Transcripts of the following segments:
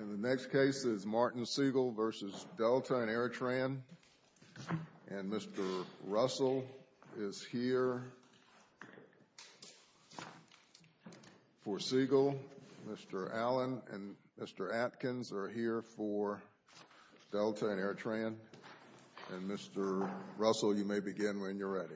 And the next case is Martin Siegel v. Delta and Airtran. And Mr. Russell is here for Siegel. Mr. Allen and Mr. Atkins are here for Delta and Airtran. And Mr. Allen and Mr. Russell, you may begin when you're ready.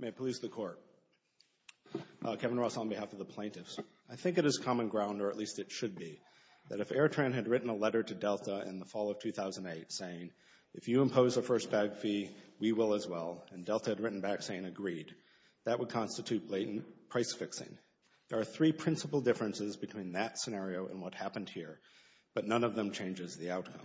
May it please the Court, Kevin Russell on behalf of the plaintiffs. I think it is common ground, or at least it should be, that if Airtran had written a letter to Delta in the fall of 2008 saying, if you impose a first bag fee, we will as well, and Delta had written back saying agreed, that would constitute blatant price fixing. There are three principal differences between that scenario and what happened here, but none of them changes the outcome.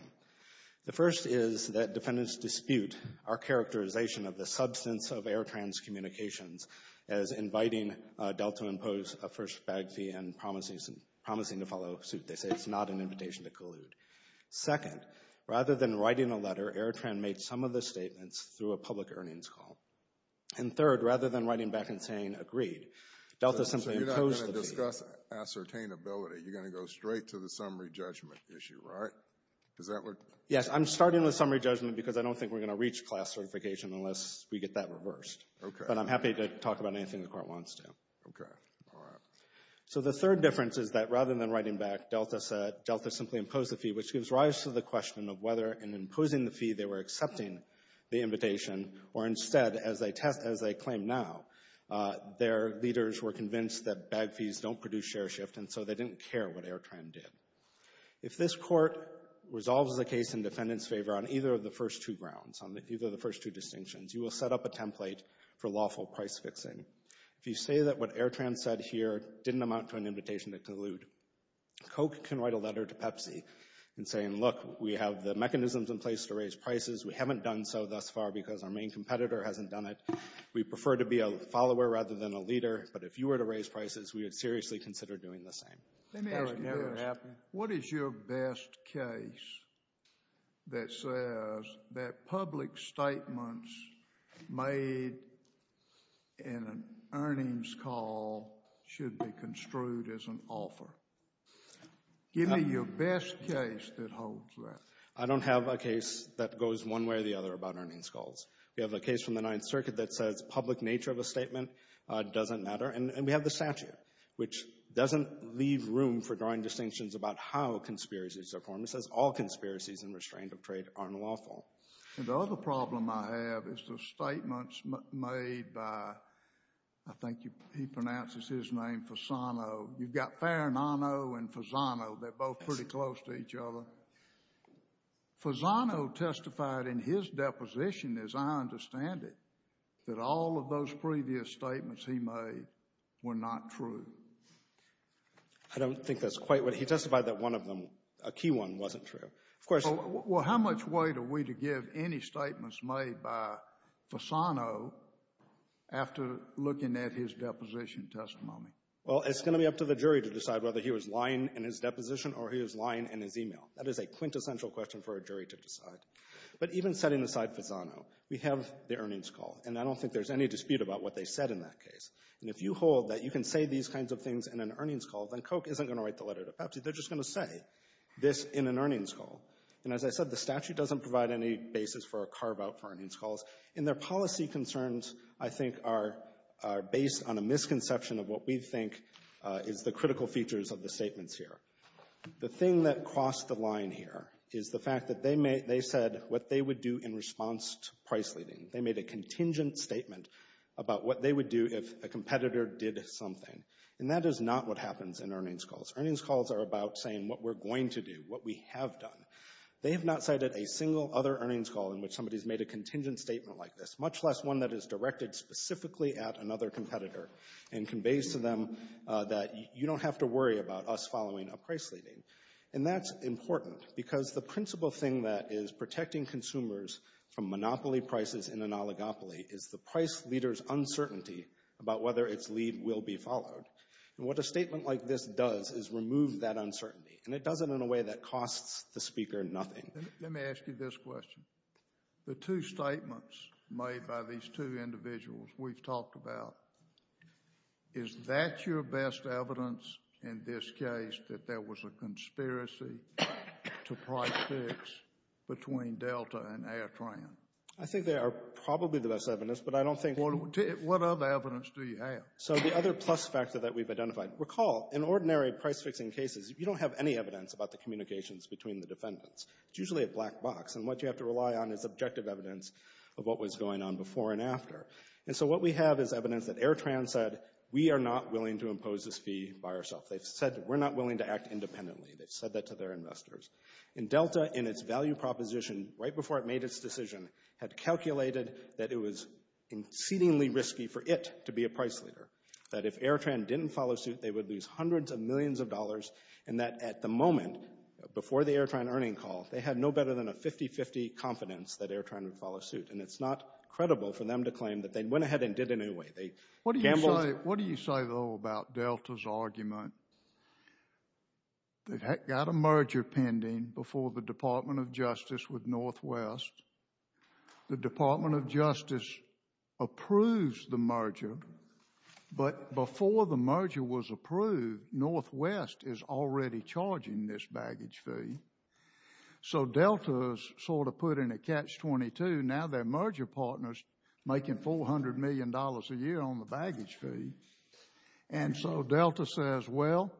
The first is that defendants dispute our characterization of the substance of Airtran's communications as inviting Delta to impose a first bag fee and promising to follow suit. They say it's not an invitation to collude. Second, rather than writing a letter, Airtran made some of the statements through a public earnings call. And third, rather than writing back and saying agreed, Delta simply imposed the fee. When you discuss ascertainability, you're going to go straight to the summary judgment issue, right? Yes, I'm starting with summary judgment because I don't think we're going to reach class certification unless we get that reversed. But I'm happy to talk about anything the Court wants to. So the third difference is that rather than writing back, Delta simply imposed the fee, which gives rise to the question of whether in imposing the fee they were accepting the invitation, or instead, as they claim now, their leaders were convinced that bag fees don't produce share shift, and so they didn't care what Airtran did. If this Court resolves the case in defendants' favor on either of the first two grounds, on either of the first two distinctions, you will set up a template for lawful price fixing. If you say that what Airtran said here didn't amount to an invitation to collude, Koch can write a letter to Pepsi and say, look, we have the mechanisms in place to raise prices. We haven't done so thus far because our main competitor hasn't done it. We prefer to be a follower rather than a leader. But if you were to raise prices, we would seriously consider doing the same. Let me ask you this. What is your best case that says that public statements made in an earnings call should be construed as an offer? Give me your best case that holds that. I don't have a case that goes one way or the other about earnings calls. We have a case from the Ninth Circuit that says public nature of a statement doesn't matter, and we have the statute, which doesn't leave room for drawing distinctions about how conspiracies are formed. It says all conspiracies in restraint of trade are unlawful. The other problem I have is the statements made by, I think he pronounces his name, Fasano. You've got Farinano and Fasano. They're both pretty close to each other. Fasano testified in his deposition, as I understand it, that all of those previous statements he made were not true. I don't think that's quite right. He testified that one of them, a key one, wasn't true. Well, how much weight are we to give any statements made by Fasano after looking at his deposition testimony? Well, it's going to be up to the jury to decide whether he was lying in his deposition or he was lying in his e-mail. That is a quintessential question for a jury to decide. But even setting aside Fasano, we have the earnings call, and I don't think there's any dispute about what they said in that case. And if you hold that you can say these kinds of things in an earnings call, then Koch isn't going to write the letter to Pepsi. They're just going to say this in an earnings call. And as I said, the statute doesn't provide any basis for a carve-out for earnings calls. And their policy concerns, I think, are based on a misconception of what we think is the critical features of the statements here. The thing that crossed the line here is the fact that they said what they would do in response to price leading. They made a contingent statement about what they would do if a competitor did something. And that is not what happens in earnings calls. Earnings calls are about saying what we're going to do, what we have done. They have not cited a single other earnings call in which somebody has made a contingent statement like this, much less one that is directed specifically at another competitor and conveys to them that you don't have to worry about us following a price leading. And that's important because the principal thing that is protecting consumers from monopoly prices in an oligopoly is the price leader's uncertainty about whether its lead will be followed. And what a statement like this does is remove that uncertainty. And it does it in a way that costs the speaker nothing. Let me ask you this question. The two statements made by these two individuals we've talked about, is that your best evidence in this case that there was a conspiracy to price fix between Delta and AirTran? I think they are probably the best evidence, but I don't think... What other evidence do you have? So the other plus factor that we've identified. Recall, in ordinary price fixing cases, you don't have any evidence about the communications between the defendants. It's usually a black box. And what you have to rely on is objective evidence of what was going on before and after. And so what we have is evidence that AirTran said, we are not willing to impose this fee by ourselves. They've said we're not willing to act independently. They've said that to their investors. And Delta, in its value proposition, right before it made its decision, had calculated that it was exceedingly risky for it to be a price leader. That if AirTran didn't follow suit, they would lose hundreds of millions of dollars. And that at the moment, before the AirTran earning call, they had no better than a 50-50 confidence that AirTran would follow suit. And it's not credible for them to claim that they went ahead and did it anyway. What do you say, though, about Delta's argument? They've got a merger pending before the Department of Justice with Northwest. The Department of Justice approves the merger. But before the merger was approved, Northwest is already charging this baggage fee. So Delta has sort of put in a catch-22. Now their merger partner is making $400 million a year on the baggage fee. And so Delta says, well,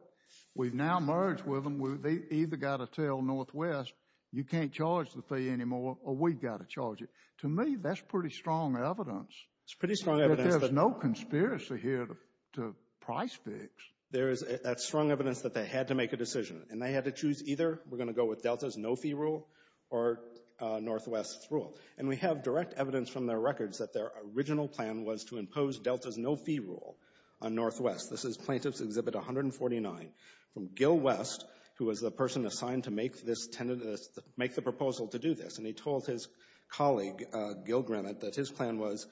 we've now merged with them. They've either got to tell Northwest, you can't charge the fee anymore, or we've got to charge it. To me, that's pretty strong evidence. It's pretty strong evidence. That there's no conspiracy here to price fix. That's strong evidence that they had to make a decision. And they had to choose either we're going to go with Delta's no-fee rule or Northwest's rule. And we have direct evidence from their records that their original plan was to impose Delta's no-fee rule on Northwest. This is Plaintiff's Exhibit 149 from Gil West, who was the person assigned to make the proposal to do this. And he told his colleague, Gil Granite, that his plan was,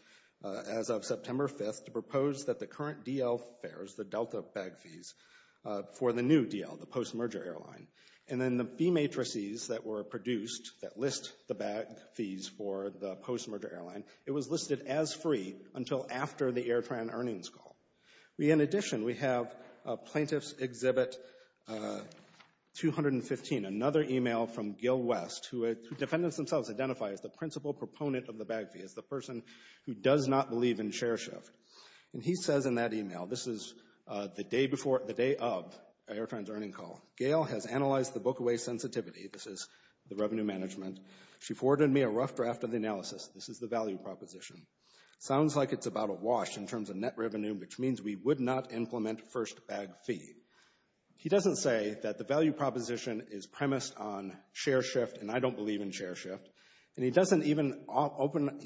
as of September 5th, to propose that the current DL fares, the Delta bag fees, for the new DL, the post-merger airline, and then the fee matrices that were produced that list the bag fees for the post-merger airline, it was listed as free until after the AirTran earnings call. In addition, we have Plaintiff's Exhibit 215, another email from Gil West, who defendants themselves identify as the principal proponent of the bag fee, as the person who does not believe in share shift. And he says in that email, this is the day of AirTran's earnings call, Gail has analyzed the book away sensitivity. This is the revenue management. She forwarded me a rough draft of the analysis. This is the value proposition. It sounds like it's about a wash in terms of net revenue, which means we would not implement first bag fee. He doesn't say that the value proposition is premised on share shift, and I don't believe in share shift. And he's not even open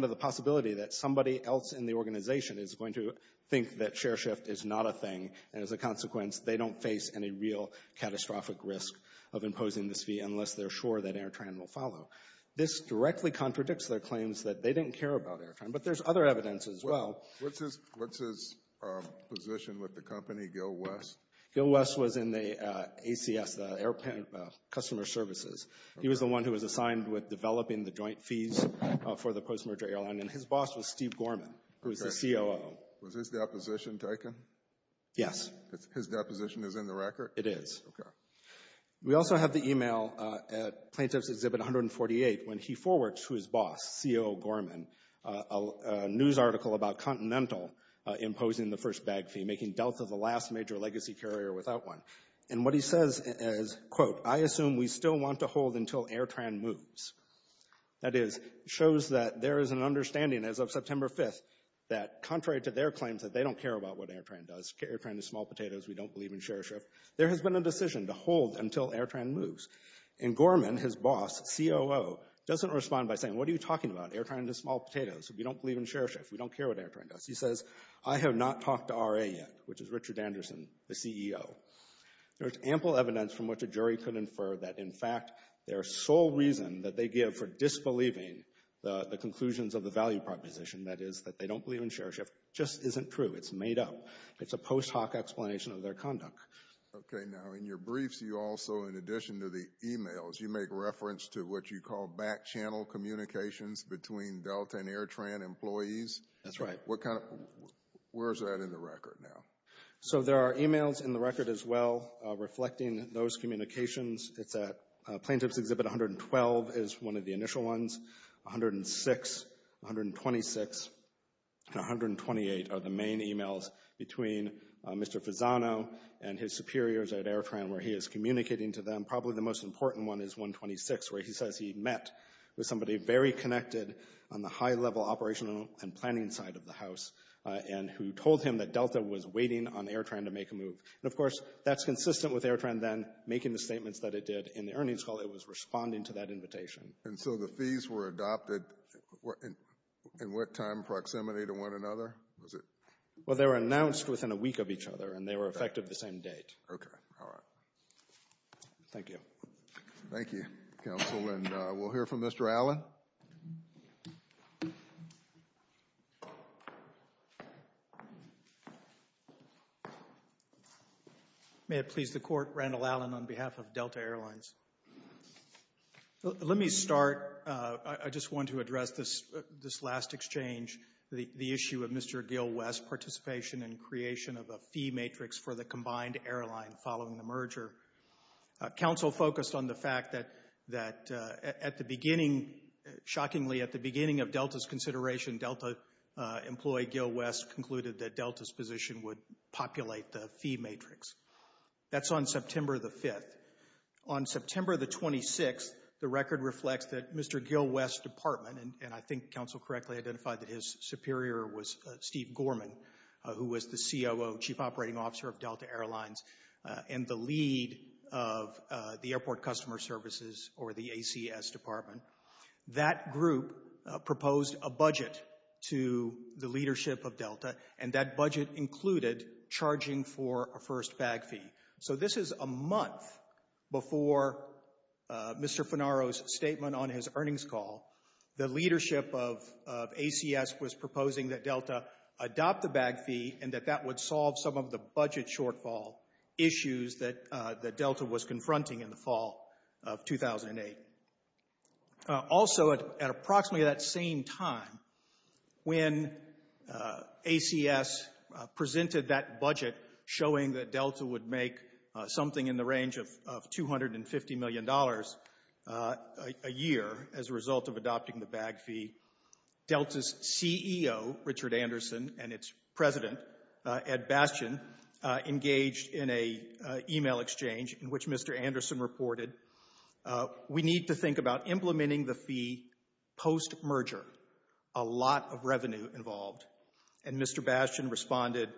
to the possibility that somebody else in the organization is going to think that share shift is not a thing, and as a consequence, they don't face any real catastrophic risk of imposing this fee, unless they're sure that AirTran will follow. This directly contradicts their claims that they didn't care about AirTran, but there's other evidence as well. What's his position with the company, Gil West? Gil West was in the ACS, the Air Customer Services. He was the one who was assigned with developing the joint fees for the post-merger airline, and his boss was Steve Gorman, who was the COO. Was his deposition taken? Yes. His deposition is in the record? It is. Okay. We also have the email at Plaintiff's Exhibit 148, when he forwards to his boss, COO Gorman, a news article about Continental imposing the first bag fee, making Delta the last major legacy carrier without one. And what he says is, quote, I assume we still want to hold until AirTran moves. That is, shows that there is an understanding as of September 5th that contrary to their claims that they don't care about what AirTran does, AirTran is small potatoes, we don't believe in share shift, there has been a decision to hold until AirTran moves. And Gorman, his boss, COO, doesn't respond by saying, what are you talking about, AirTran is small potatoes, we don't believe in share shift, we don't care what AirTran does. He says, I have not talked to RA yet, which is Richard Anderson, the CEO. There is ample evidence from which a jury could infer that, in fact, their sole reason that they give for disbelieving the conclusions of the value proposition, that is, that they don't believe in share shift, just isn't true. It's made up. It's a post hoc explanation of their conduct. Okay. Now, in your briefs, you also, in addition to the e-mails, you make reference to what you call back channel communications between Delta and AirTran employees. That's right. What kind of, where is that in the record now? So there are e-mails in the record as well reflecting those communications. It's at plaintiff's exhibit 112 is one of the initial ones, 106, 126, and 128 are the main e-mails between Mr. Fasano and his superiors at AirTran where he is communicating to them. Probably the most important one is 126 where he says he met with somebody very connected on the high level operational and planning side of the house and who told him that Delta was waiting on AirTran to make a move. And, of course, that's consistent with AirTran then making the statements that it did. In the earnings call, it was responding to that invitation. And so the fees were adopted in what time proximity to one another? Well, they were announced within a week of each other, and they were effective the same date. Okay. All right. Thank you. Thank you, Counsel. And we'll hear from Mr. Allen. May it please the Court, Randall Allen on behalf of Delta Airlines. Let me start. I just want to address this last exchange, the issue of Mr. Gil West's participation in creation of a fee matrix for the combined airline following the merger. Counsel focused on the fact that at the beginning, shockingly, at the beginning of Delta's consideration, Delta employee Gil West concluded that Delta's position would populate the fee matrix. That's on September the 5th. On September the 26th, the record reflects that Mr. Gil West's department, and I think Counsel correctly identified that his superior was Steve Gorman, who was the COO, Chief Operating Officer of Delta Airlines, and the lead of the Airport Customer Services, or the ACS, department. That group proposed a budget to the leadership of Delta, and that budget included charging for a first bag fee. So this is a month before Mr. Fennaro's statement on his earnings call. The leadership of ACS was proposing that Delta adopt the bag fee and that that would solve some of the budget shortfall issues that Delta was confronting in the fall of 2008. Also, at approximately that same time, when ACS presented that budget showing that Delta would make something in the range of $250 million a year as a result of adopting the bag fee, Delta's CEO, Richard Anderson, and its president, Ed Bastian, engaged in an e-mail exchange in which Mr. Anderson reported, we need to think about implementing the fee post-merger. A lot of revenue involved. And Mr. Bastian responded,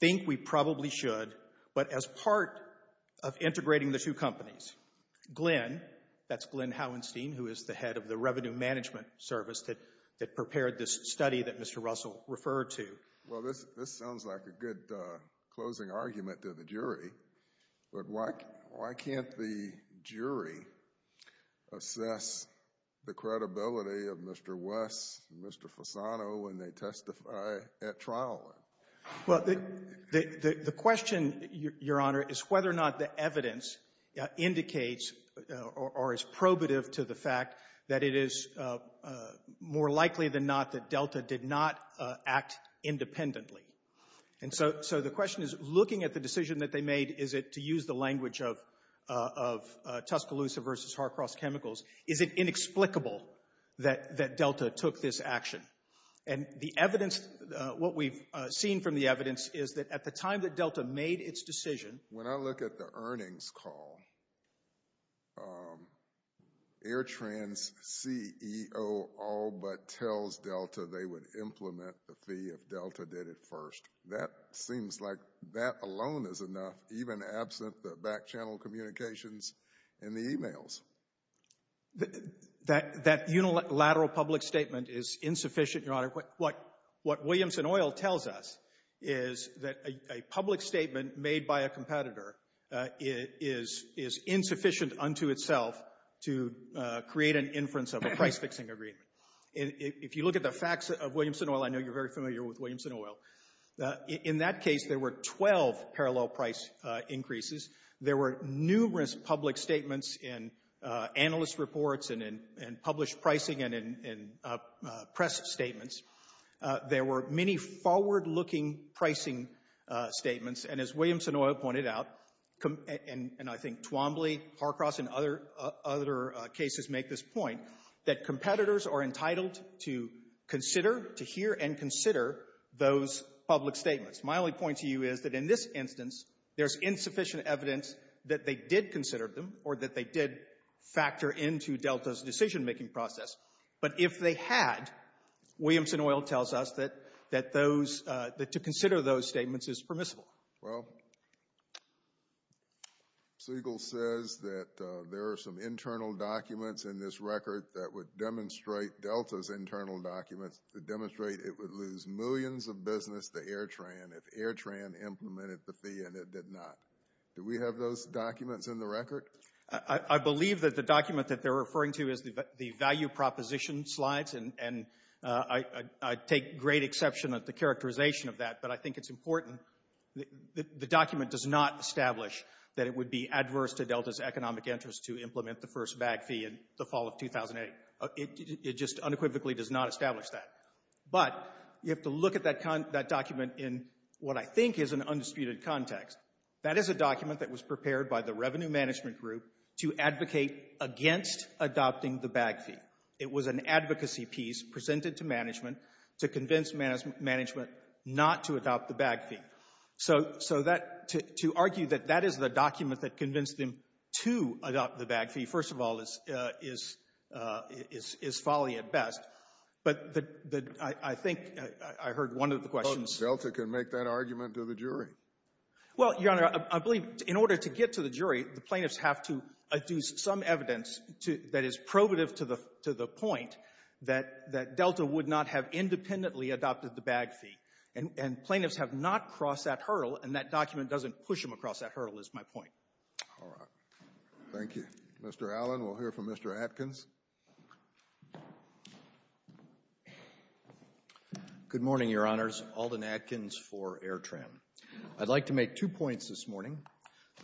think we probably should, but as part of integrating the two companies. Glenn, that's Glenn Hauenstein, who is the head of the Revenue Management Service that prepared this study that Mr. Russell referred to. Well, this sounds like a good closing argument to the jury, but why can't the jury assess the credibility of Mr. West and Mr. Fasano when they testify at trial? Well, the question, Your Honor, is whether or not the evidence indicates or is probative to the fact that it is more likely than not that Delta did not act independently. And so the question is, looking at the decision that they made, is it, to use the language of Tuscaloosa v. Harcross Chemicals, is it inexplicable that Delta took this action? And the evidence, what we've seen from the evidence, is that at the time that Delta made its decision... When I look at the earnings call, Air Trans CEO all but tells Delta they would implement the fee if Delta did it first. That seems like that alone is enough, even absent the back-channel communications and the e-mails. That unilateral public statement is insufficient, Your Honor. What Williamson Oil tells us is that a public statement made by a competitor is insufficient unto itself to create an inference of a price-fixing agreement. If you look at the facts of Williamson Oil, I know you're very familiar with Williamson Oil. In that case, there were 12 parallel price increases. There were numerous public statements in analyst reports and in published pricing and in press statements. There were many forward-looking pricing statements. And as Williamson Oil pointed out, and I think Twombly, Harcross, and other cases make this point, that competitors are entitled to consider, to hear and consider those public statements. My only point to you is that in this instance, there's insufficient evidence that they did consider them or that they did factor into Delta's decision-making process. But if they had, Williamson Oil tells us that to consider those statements is permissible. Well, Siegel says that there are some internal documents in this record that would demonstrate Delta's internal documents that demonstrate it would lose millions of business to AirTran if AirTran implemented the fee and it did not. Do we have those documents in the record? I believe that the document that they're referring to is the value proposition slides, and I take great exception at the characterization of that, but I think it's important. The document does not establish that it would be adverse to Delta's economic interest to implement the first bag fee in the fall of 2008. It just unequivocally does not establish that. But you have to look at that document in what I think is an undisputed context. That is a document that was prepared by the revenue management group to advocate against adopting the bag fee. It was an advocacy piece presented to management to convince management not to adopt the bag fee. So that to argue that that is the document that convinced them to adopt the bag fee, first of all, is folly at best. But I think I heard one of the questions. Both Delta can make that argument to the jury. Well, Your Honor, I believe in order to get to the jury, the plaintiffs have to adduce some evidence that is probative to the point that Delta would not have independently adopted the bag fee. And plaintiffs have not crossed that hurdle, and that document doesn't push them across that hurdle is my point. All right. Thank you. Mr. Allen, we'll hear from Mr. Atkins. Good morning, Your Honors. Alden Atkins for Airtran. I'd like to make two points this morning.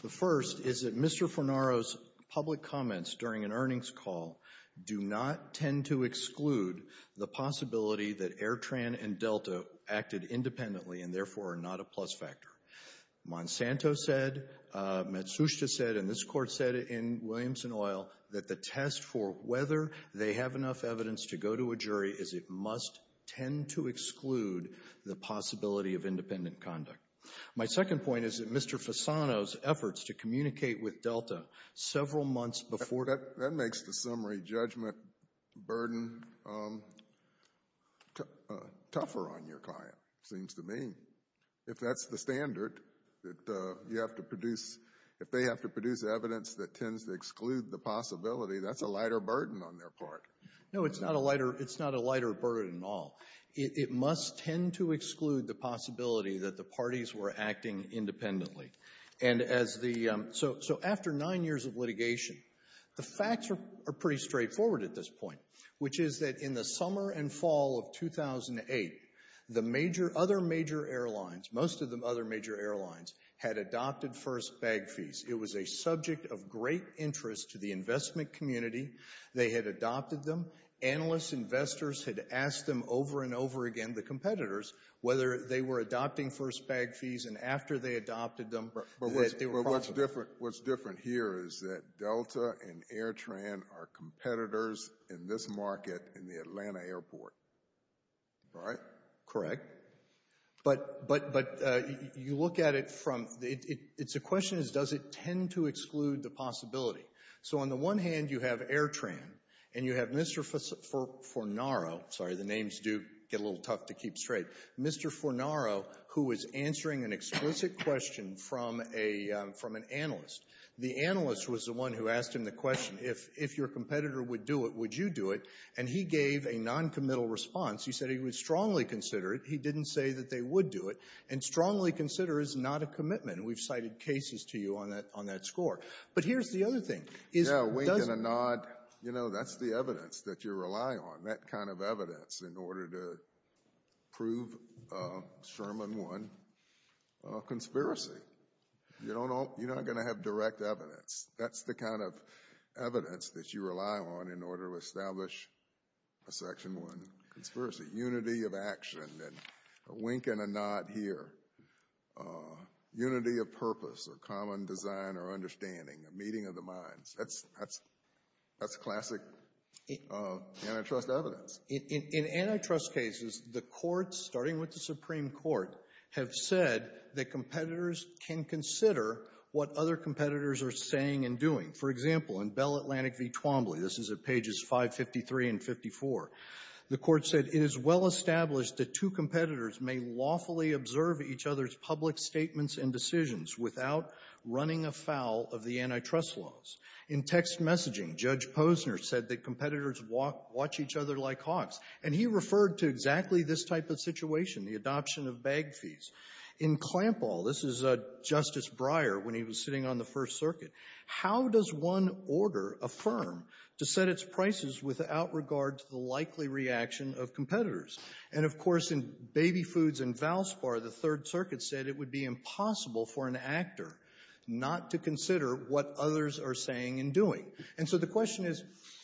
The first is that Mr. Fornaro's public comments during an earnings call do not tend to exclude the possibility that Airtran and Delta acted independently and therefore are not a plus factor. Monsanto said, Matsushita said, and this Court said in Williamson Oil, that the test for whether they have enough evidence to go to a jury is it must tend to exclude the possibility of independent conduct. My second point is that Mr. Fasano's efforts to communicate with Delta several months before... burden tougher on your client, seems to me. If that's the standard that you have to produce, if they have to produce evidence that tends to exclude the possibility, that's a lighter burden on their part. No, it's not a lighter burden at all. It must tend to exclude the possibility that the parties were acting independently. And so after nine years of litigation, the facts are pretty straightforward at this point, which is that in the summer and fall of 2008, the other major airlines, most of the other major airlines, had adopted first bag fees. It was a subject of great interest to the investment community. They had adopted them. Analysts, investors had asked them over and over again, the competitors, whether they were adopting first bag fees and after they adopted them... But what's different here is that Delta and AirTran are competitors in this market in the Atlanta airport. Right? Correct. But you look at it from... The question is, does it tend to exclude the possibility? So on the one hand, you have AirTran, and you have Mr. Fornaro. Sorry, the names do get a little tough to keep straight. Mr. Fornaro, who is answering an explicit question from an analyst. The analyst was the one who asked him the question, if your competitor would do it, would you do it? And he gave a noncommittal response. He said he would strongly consider it. He didn't say that they would do it. And strongly consider is not a commitment. We've cited cases to you on that score. But here's the other thing. Yeah, wink and a nod. You know, that's the evidence that you rely on, that kind of evidence, in order to prove Sherman 1 conspiracy. You're not going to have direct evidence. That's the kind of evidence that you rely on in order to establish a Section 1 conspiracy. Unity of action. A wink and a nod here. Unity of purpose or common design or understanding. A meeting of the minds. That's classic antitrust evidence. In antitrust cases, the courts, starting with the Supreme Court, have said that competitors can consider what other competitors are saying and doing. For example, in Bell Atlantic v. Twombly, this is at pages 553 and 54, the court said, it is well established that two competitors may lawfully observe each other's public statements and decisions without running afoul of the antitrust laws. In text messaging, Judge Posner said that competitors watch each other like hogs. And he referred to exactly this type of situation, the adoption of bag fees. In Clampall, this is Justice Breyer, when he was sitting on the First Circuit, how does one order a firm to set its prices without regard to the likely reaction of competitors? And, of course, in Baby Foods and Valspar, the Third Circuit said it would be impossible for an actor not to consider what others are saying and doing. And so the question is,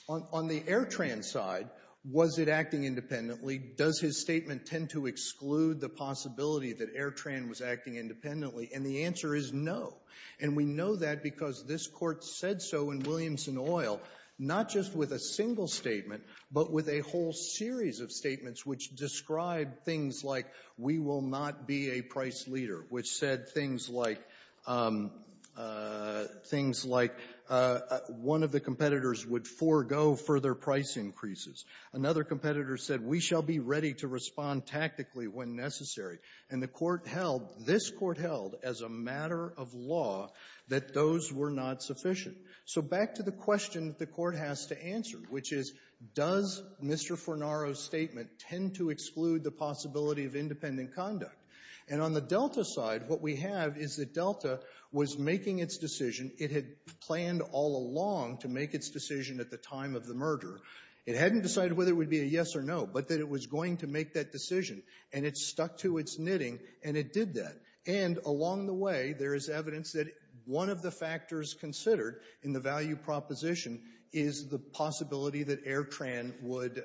on the Airtran side, was it acting independently? Does his statement tend to exclude the possibility that Airtran was acting independently? And the answer is no. And we know that because this Court said so in Williamson Oil, not just with a single statement, but with a whole series of statements which described things like we will not be a price leader, which said things like one of the competitors would forego further price increases. Another competitor said we shall be ready to respond tactically when necessary. And the Court held, this Court held, as a matter of law, that those were not sufficient. So back to the question that the Court has to answer, which is, does Mr. Fornaro's statement tend to exclude the possibility of independent conduct? And on the Delta side, what we have is that Delta was making its decision. It had planned all along to make its decision at the time of the murder. It hadn't decided whether it would be a yes or no, but that it was going to make that decision. And it stuck to its knitting, and it did that. And along the way, there is evidence that one of the factors considered in the value proposition is the possibility that Airtran would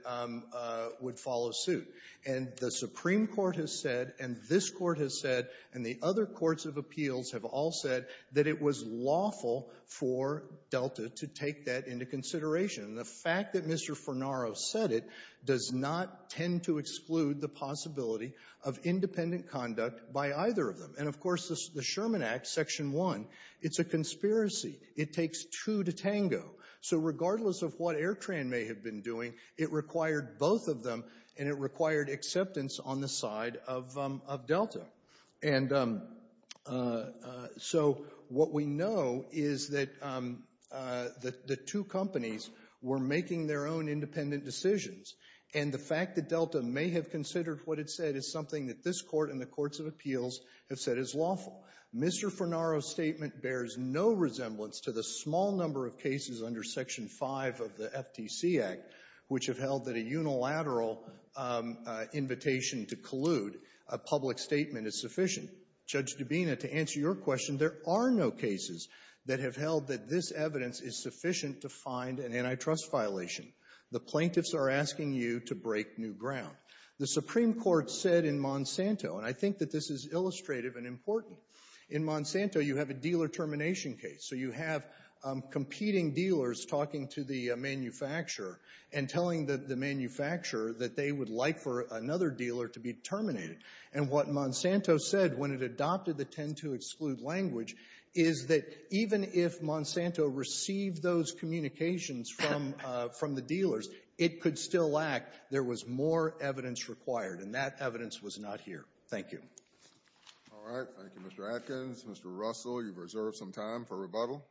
follow suit. And the Supreme Court has said, and this Court has said, and the other courts of appeals have all said that it was lawful for Delta to take that into consideration. And the fact that Mr. Fornaro said it does not tend to exclude the possibility of independent conduct by either of them. And, of course, the Sherman Act, Section 1, it's a conspiracy. It takes two to tango. So regardless of what Airtran may have been doing, it required both of them, and it required acceptance on the side of Delta. And so what we know is that the two companies were making their own independent decisions. And the fact that Delta may have considered what it said is something that this Court and the courts of appeals have said is lawful. Mr. Fornaro's statement bears no resemblance to the small number of cases under Section 5 of the FTC Act which have held that a unilateral invitation to collude a public statement is sufficient. Judge Dubina, to answer your question, there are no cases that have held that this evidence is sufficient to find an antitrust violation. The plaintiffs are asking you to break new ground. The Supreme Court said in Monsanto, and I think that this is illustrative and important, in Monsanto you have a dealer termination case. So you have competing dealers talking to the manufacturer and telling the manufacturer that they would like for another dealer to be terminated. And what Monsanto said when it adopted the tend-to-exclude language is that even if Monsanto received those communications from the dealers, it could still lack. There was more evidence required, and that evidence was not here. Thank you. All right. Thank you, Mr. Atkins. Mr. Russell, you've reserved some time for rebuttal.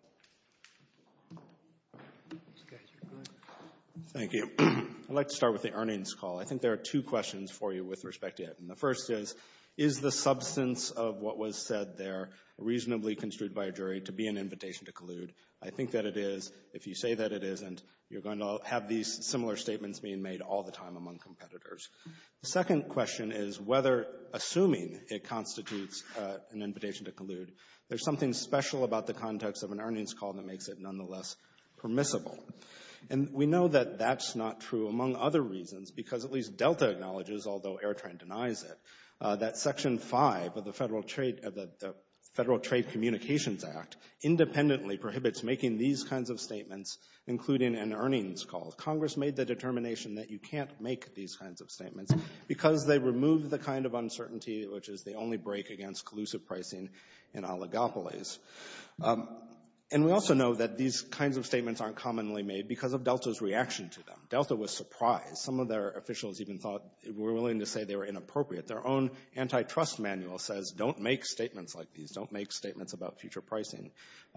Thank you. I'd like to start with the earnings call. I think there are two questions for you with respect to it. And the first is, is the substance of what was said there reasonably construed by a jury to be an invitation to collude? I think that it is. If you say that it isn't, you're going to have these similar statements being made all the time among competitors. The second question is whether, assuming it constitutes an invitation to collude, there's something special about the context of an earnings call that makes it nonetheless permissible. And we know that that's not true, among other reasons, because at least Delta acknowledges, although Airtrain denies it, that Section 5 of the Federal Trade Communications Act independently prohibits making these kinds of statements, including an earnings call. Congress made the determination that you can't make these kinds of statements because they remove the kind of uncertainty which is the only break against collusive pricing in oligopolies. And we also know that these kinds of statements aren't commonly made because of Delta's reaction to them. Delta was surprised. Some of their officials even thought, were willing to say they were inappropriate. Their own antitrust manual says, don't make statements like these. Don't make statements about future pricing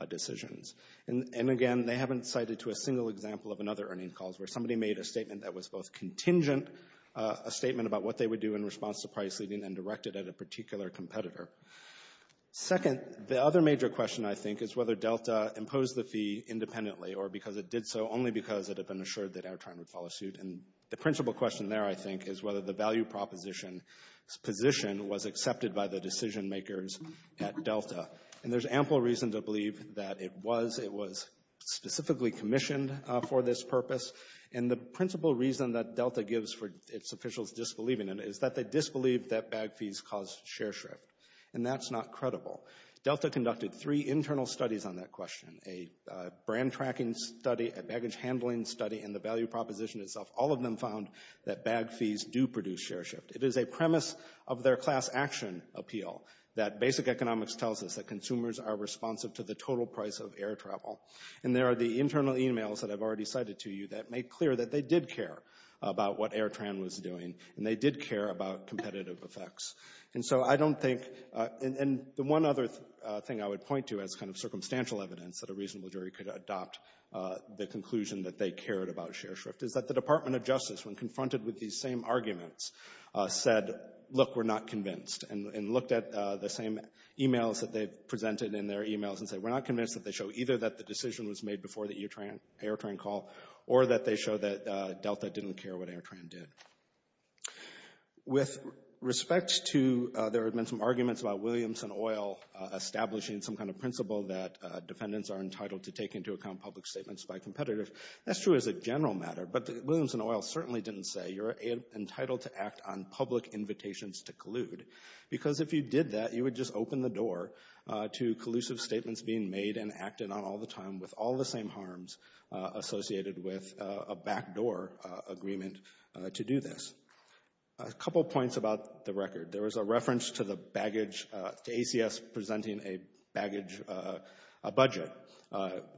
decisions. And again, they haven't cited to a single example of another earnings call, where somebody made a statement that was both contingent, a statement about what they would do in response to price leading and directed at a particular competitor. Second, the other major question, I think, is whether Delta imposed the fee independently or because it did so only because it had been assured that Airtrain would follow suit. And the principal question there, I think, is whether the value proposition position was accepted by the decision makers at Delta. And there's ample reason to believe that it was. It was specifically commissioned for this purpose. And the principal reason that Delta gives for its officials disbelieving in it is that they disbelieve that bag fees cause share shift. And that's not credible. Delta conducted three internal studies on that question, a brand tracking study, a baggage handling study, and the value proposition itself. All of them found that bag fees do produce share shift. It is a premise of their class action appeal that basic economics tells us that consumers are responsive to the total price of air travel. And there are the internal e-mails that I've already cited to you that make clear that they did care about what Airtrain was doing, and they did care about competitive effects. And so I don't think the one other thing I would point to as kind of circumstantial evidence that a reasonable jury could adopt the conclusion that they cared about share shift is that the Department of Justice, when confronted with these same arguments, said, look, we're not convinced and looked at the same e-mails that they've presented in their e-mails and said, we're not convinced that they show either that the decision was made before the Airtrain call or that they show that Delta didn't care what Airtrain did. With respect to... There have been some arguments about Williamson Oil establishing some kind of principle that defendants are entitled to take into account public statements by competitors. That's true as a general matter, but Williamson Oil certainly didn't say, you're entitled to act on public invitations to collude. Because if you did that, you would just open the door to collusive statements being made and acted on all the time with all the same harms associated with a backdoor agreement to do this. A couple points about the record. There was a reference to the baggage... to ACS presenting a baggage... a budget,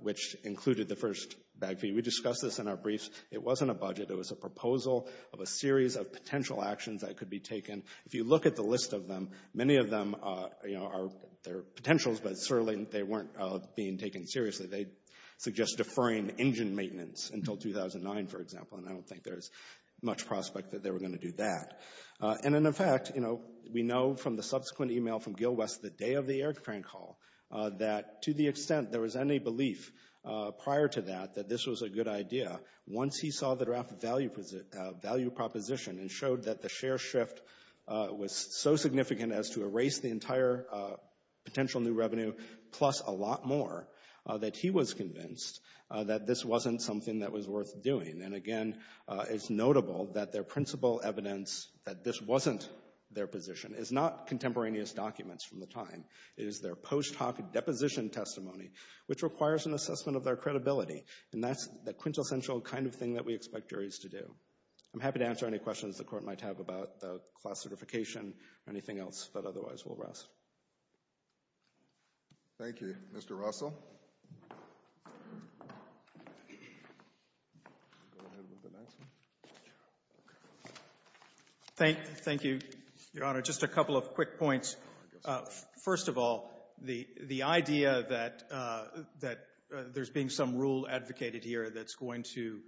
which included the first bag fee. We discussed this in our briefs. It wasn't a budget. It was a proposal of a series of potential actions that could be taken. If you look at the list of them, many of them are potentials, but certainly they weren't being taken seriously. They suggest deferring engine maintenance until 2009, for example, and I don't think there's much prospect that they were going to do that. And in effect, we know from the subsequent e-mail from Gil West the day of the Airtrain call that to the extent there was any belief prior to that that this was a good idea, once he saw the draft value proposition and showed that the share shift was so significant as to erase the entire potential new revenue plus a lot more, that he was convinced that this wasn't something that was worth doing. And again, it's notable that their principal evidence that this wasn't their position is not contemporaneous documents from the time. It is their post-hoc deposition testimony, which requires an assessment of their credibility, and that's the quintessential kind of thing that we expect juries to do. I'm happy to answer any questions the Court might have about the class certification or anything else that otherwise will rest. Thank you. Mr. Russell? Thank you, Your Honor. Just a couple of quick points. First of all, the idea that there's been some rule advocated here that's going to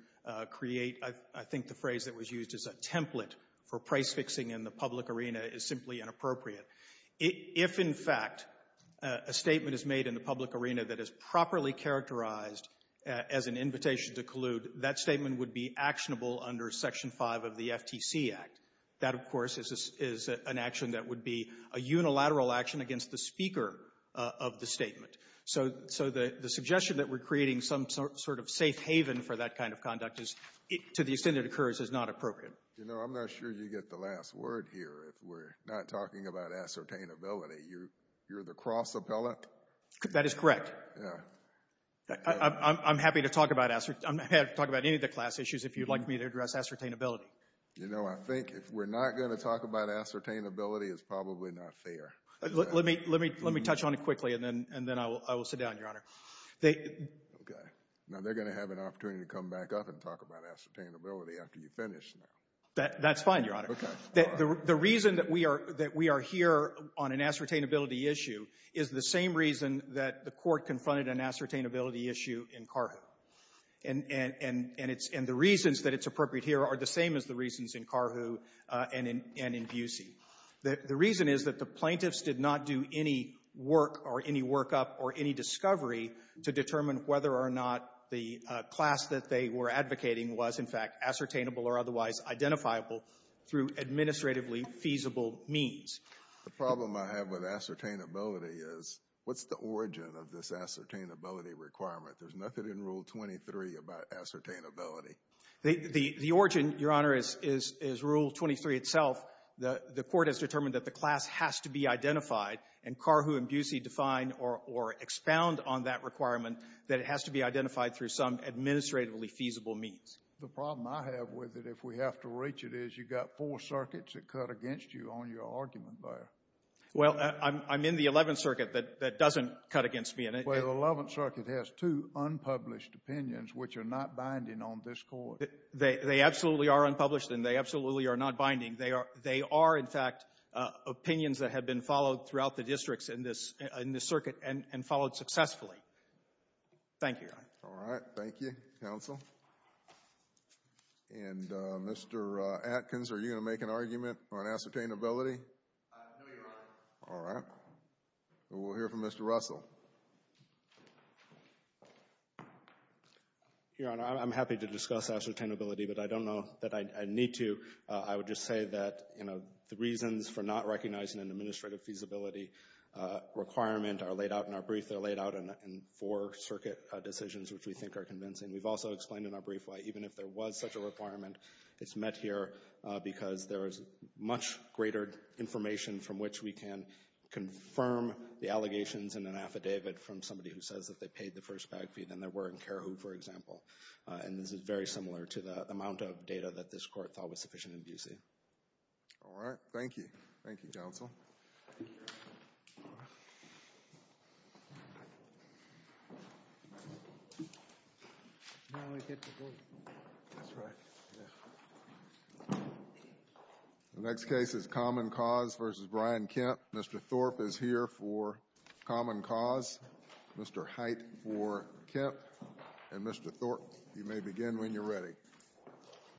create, I think, the phrase that was used as a template for price fixing in the public arena is simply inappropriate. If, in fact, a statement is made in the public arena that is properly characterized as an invitation to collude, that statement would be actionable under Section 5 of the FTC Act. That, of course, is an action that would be a unilateral action against the speaker of the statement. So the suggestion that we're creating some sort of safe haven for that kind of conduct to the extent it occurs is not appropriate. You know, I'm not sure you get the last word here if we're not talking about ascertainability. You're the cross appellate? That is correct. I'm happy to talk about any of the class issues if you'd like me to address ascertainability. You know, I think if we're not going to talk about ascertainability it's probably not fair. Let me touch on it quickly, and then I will sit down, Your Honor. Okay. Now, they're going to have an opportunity to come back up and talk about ascertainability after you finish now. That's fine, Your Honor. Okay. The reason that we are here on an ascertainability issue is the same reason that the Court confronted an ascertainability issue in Carhu. And the reasons that it's appropriate here are the same as the reasons in Carhu and in Busey. The reason is that the plaintiffs did not do any work or any workup or any discovery to determine whether or not the class that they were advocating was, in fact, ascertainable or otherwise identifiable through administratively feasible means. The problem I have with ascertainability is what's the origin of this ascertainability requirement? There's nothing in Rule 23 about ascertainability. The origin, Your Honor, is Rule 23 itself. The Court has determined that the class has to be identified, and Carhu and Busey define or expound on that requirement that it has to be identified through some administratively feasible means. The problem I have with it, if we have to reach it, is you've got four circuits that cut against you on your argument there. Well, I'm in the Eleventh Circuit that doesn't cut against me. Well, the Eleventh Circuit has two unpublished opinions which are not binding on this Court. They absolutely are unpublished, and they absolutely are not binding. They are, in fact, opinions that have been followed throughout the districts in this circuit and followed successfully. Thank you, Your Honor. All right. Thank you, counsel. And, Mr. Atkins, are you going to make an argument on ascertainability? No, Your Honor. All right. We'll hear from Mr. Russell. Your Honor, I'm happy to discuss ascertainability, but I don't know that I need to. I would just say that, you know, the reasons for not recognizing an administrative feasibility requirement are laid out in our brief. They're laid out in four-circuit decisions, which we think are convincing. We've also explained in our brief why even if there was such a requirement, it's met here because there is much greater information from which we can confirm the allegations in an affidavit from somebody who says that they paid the first bag fee than there were in Care Who, for example. And this is very similar to the amount of data that this Court thought was sufficient in Bucy. All right. Thank you. Thank you, counsel. The next case is Common Cause v. Brian Kemp. Mr. Thorpe is here for Common Cause. Mr. Hite for Kemp, and Mr. Thorpe, you may begin when you're ready.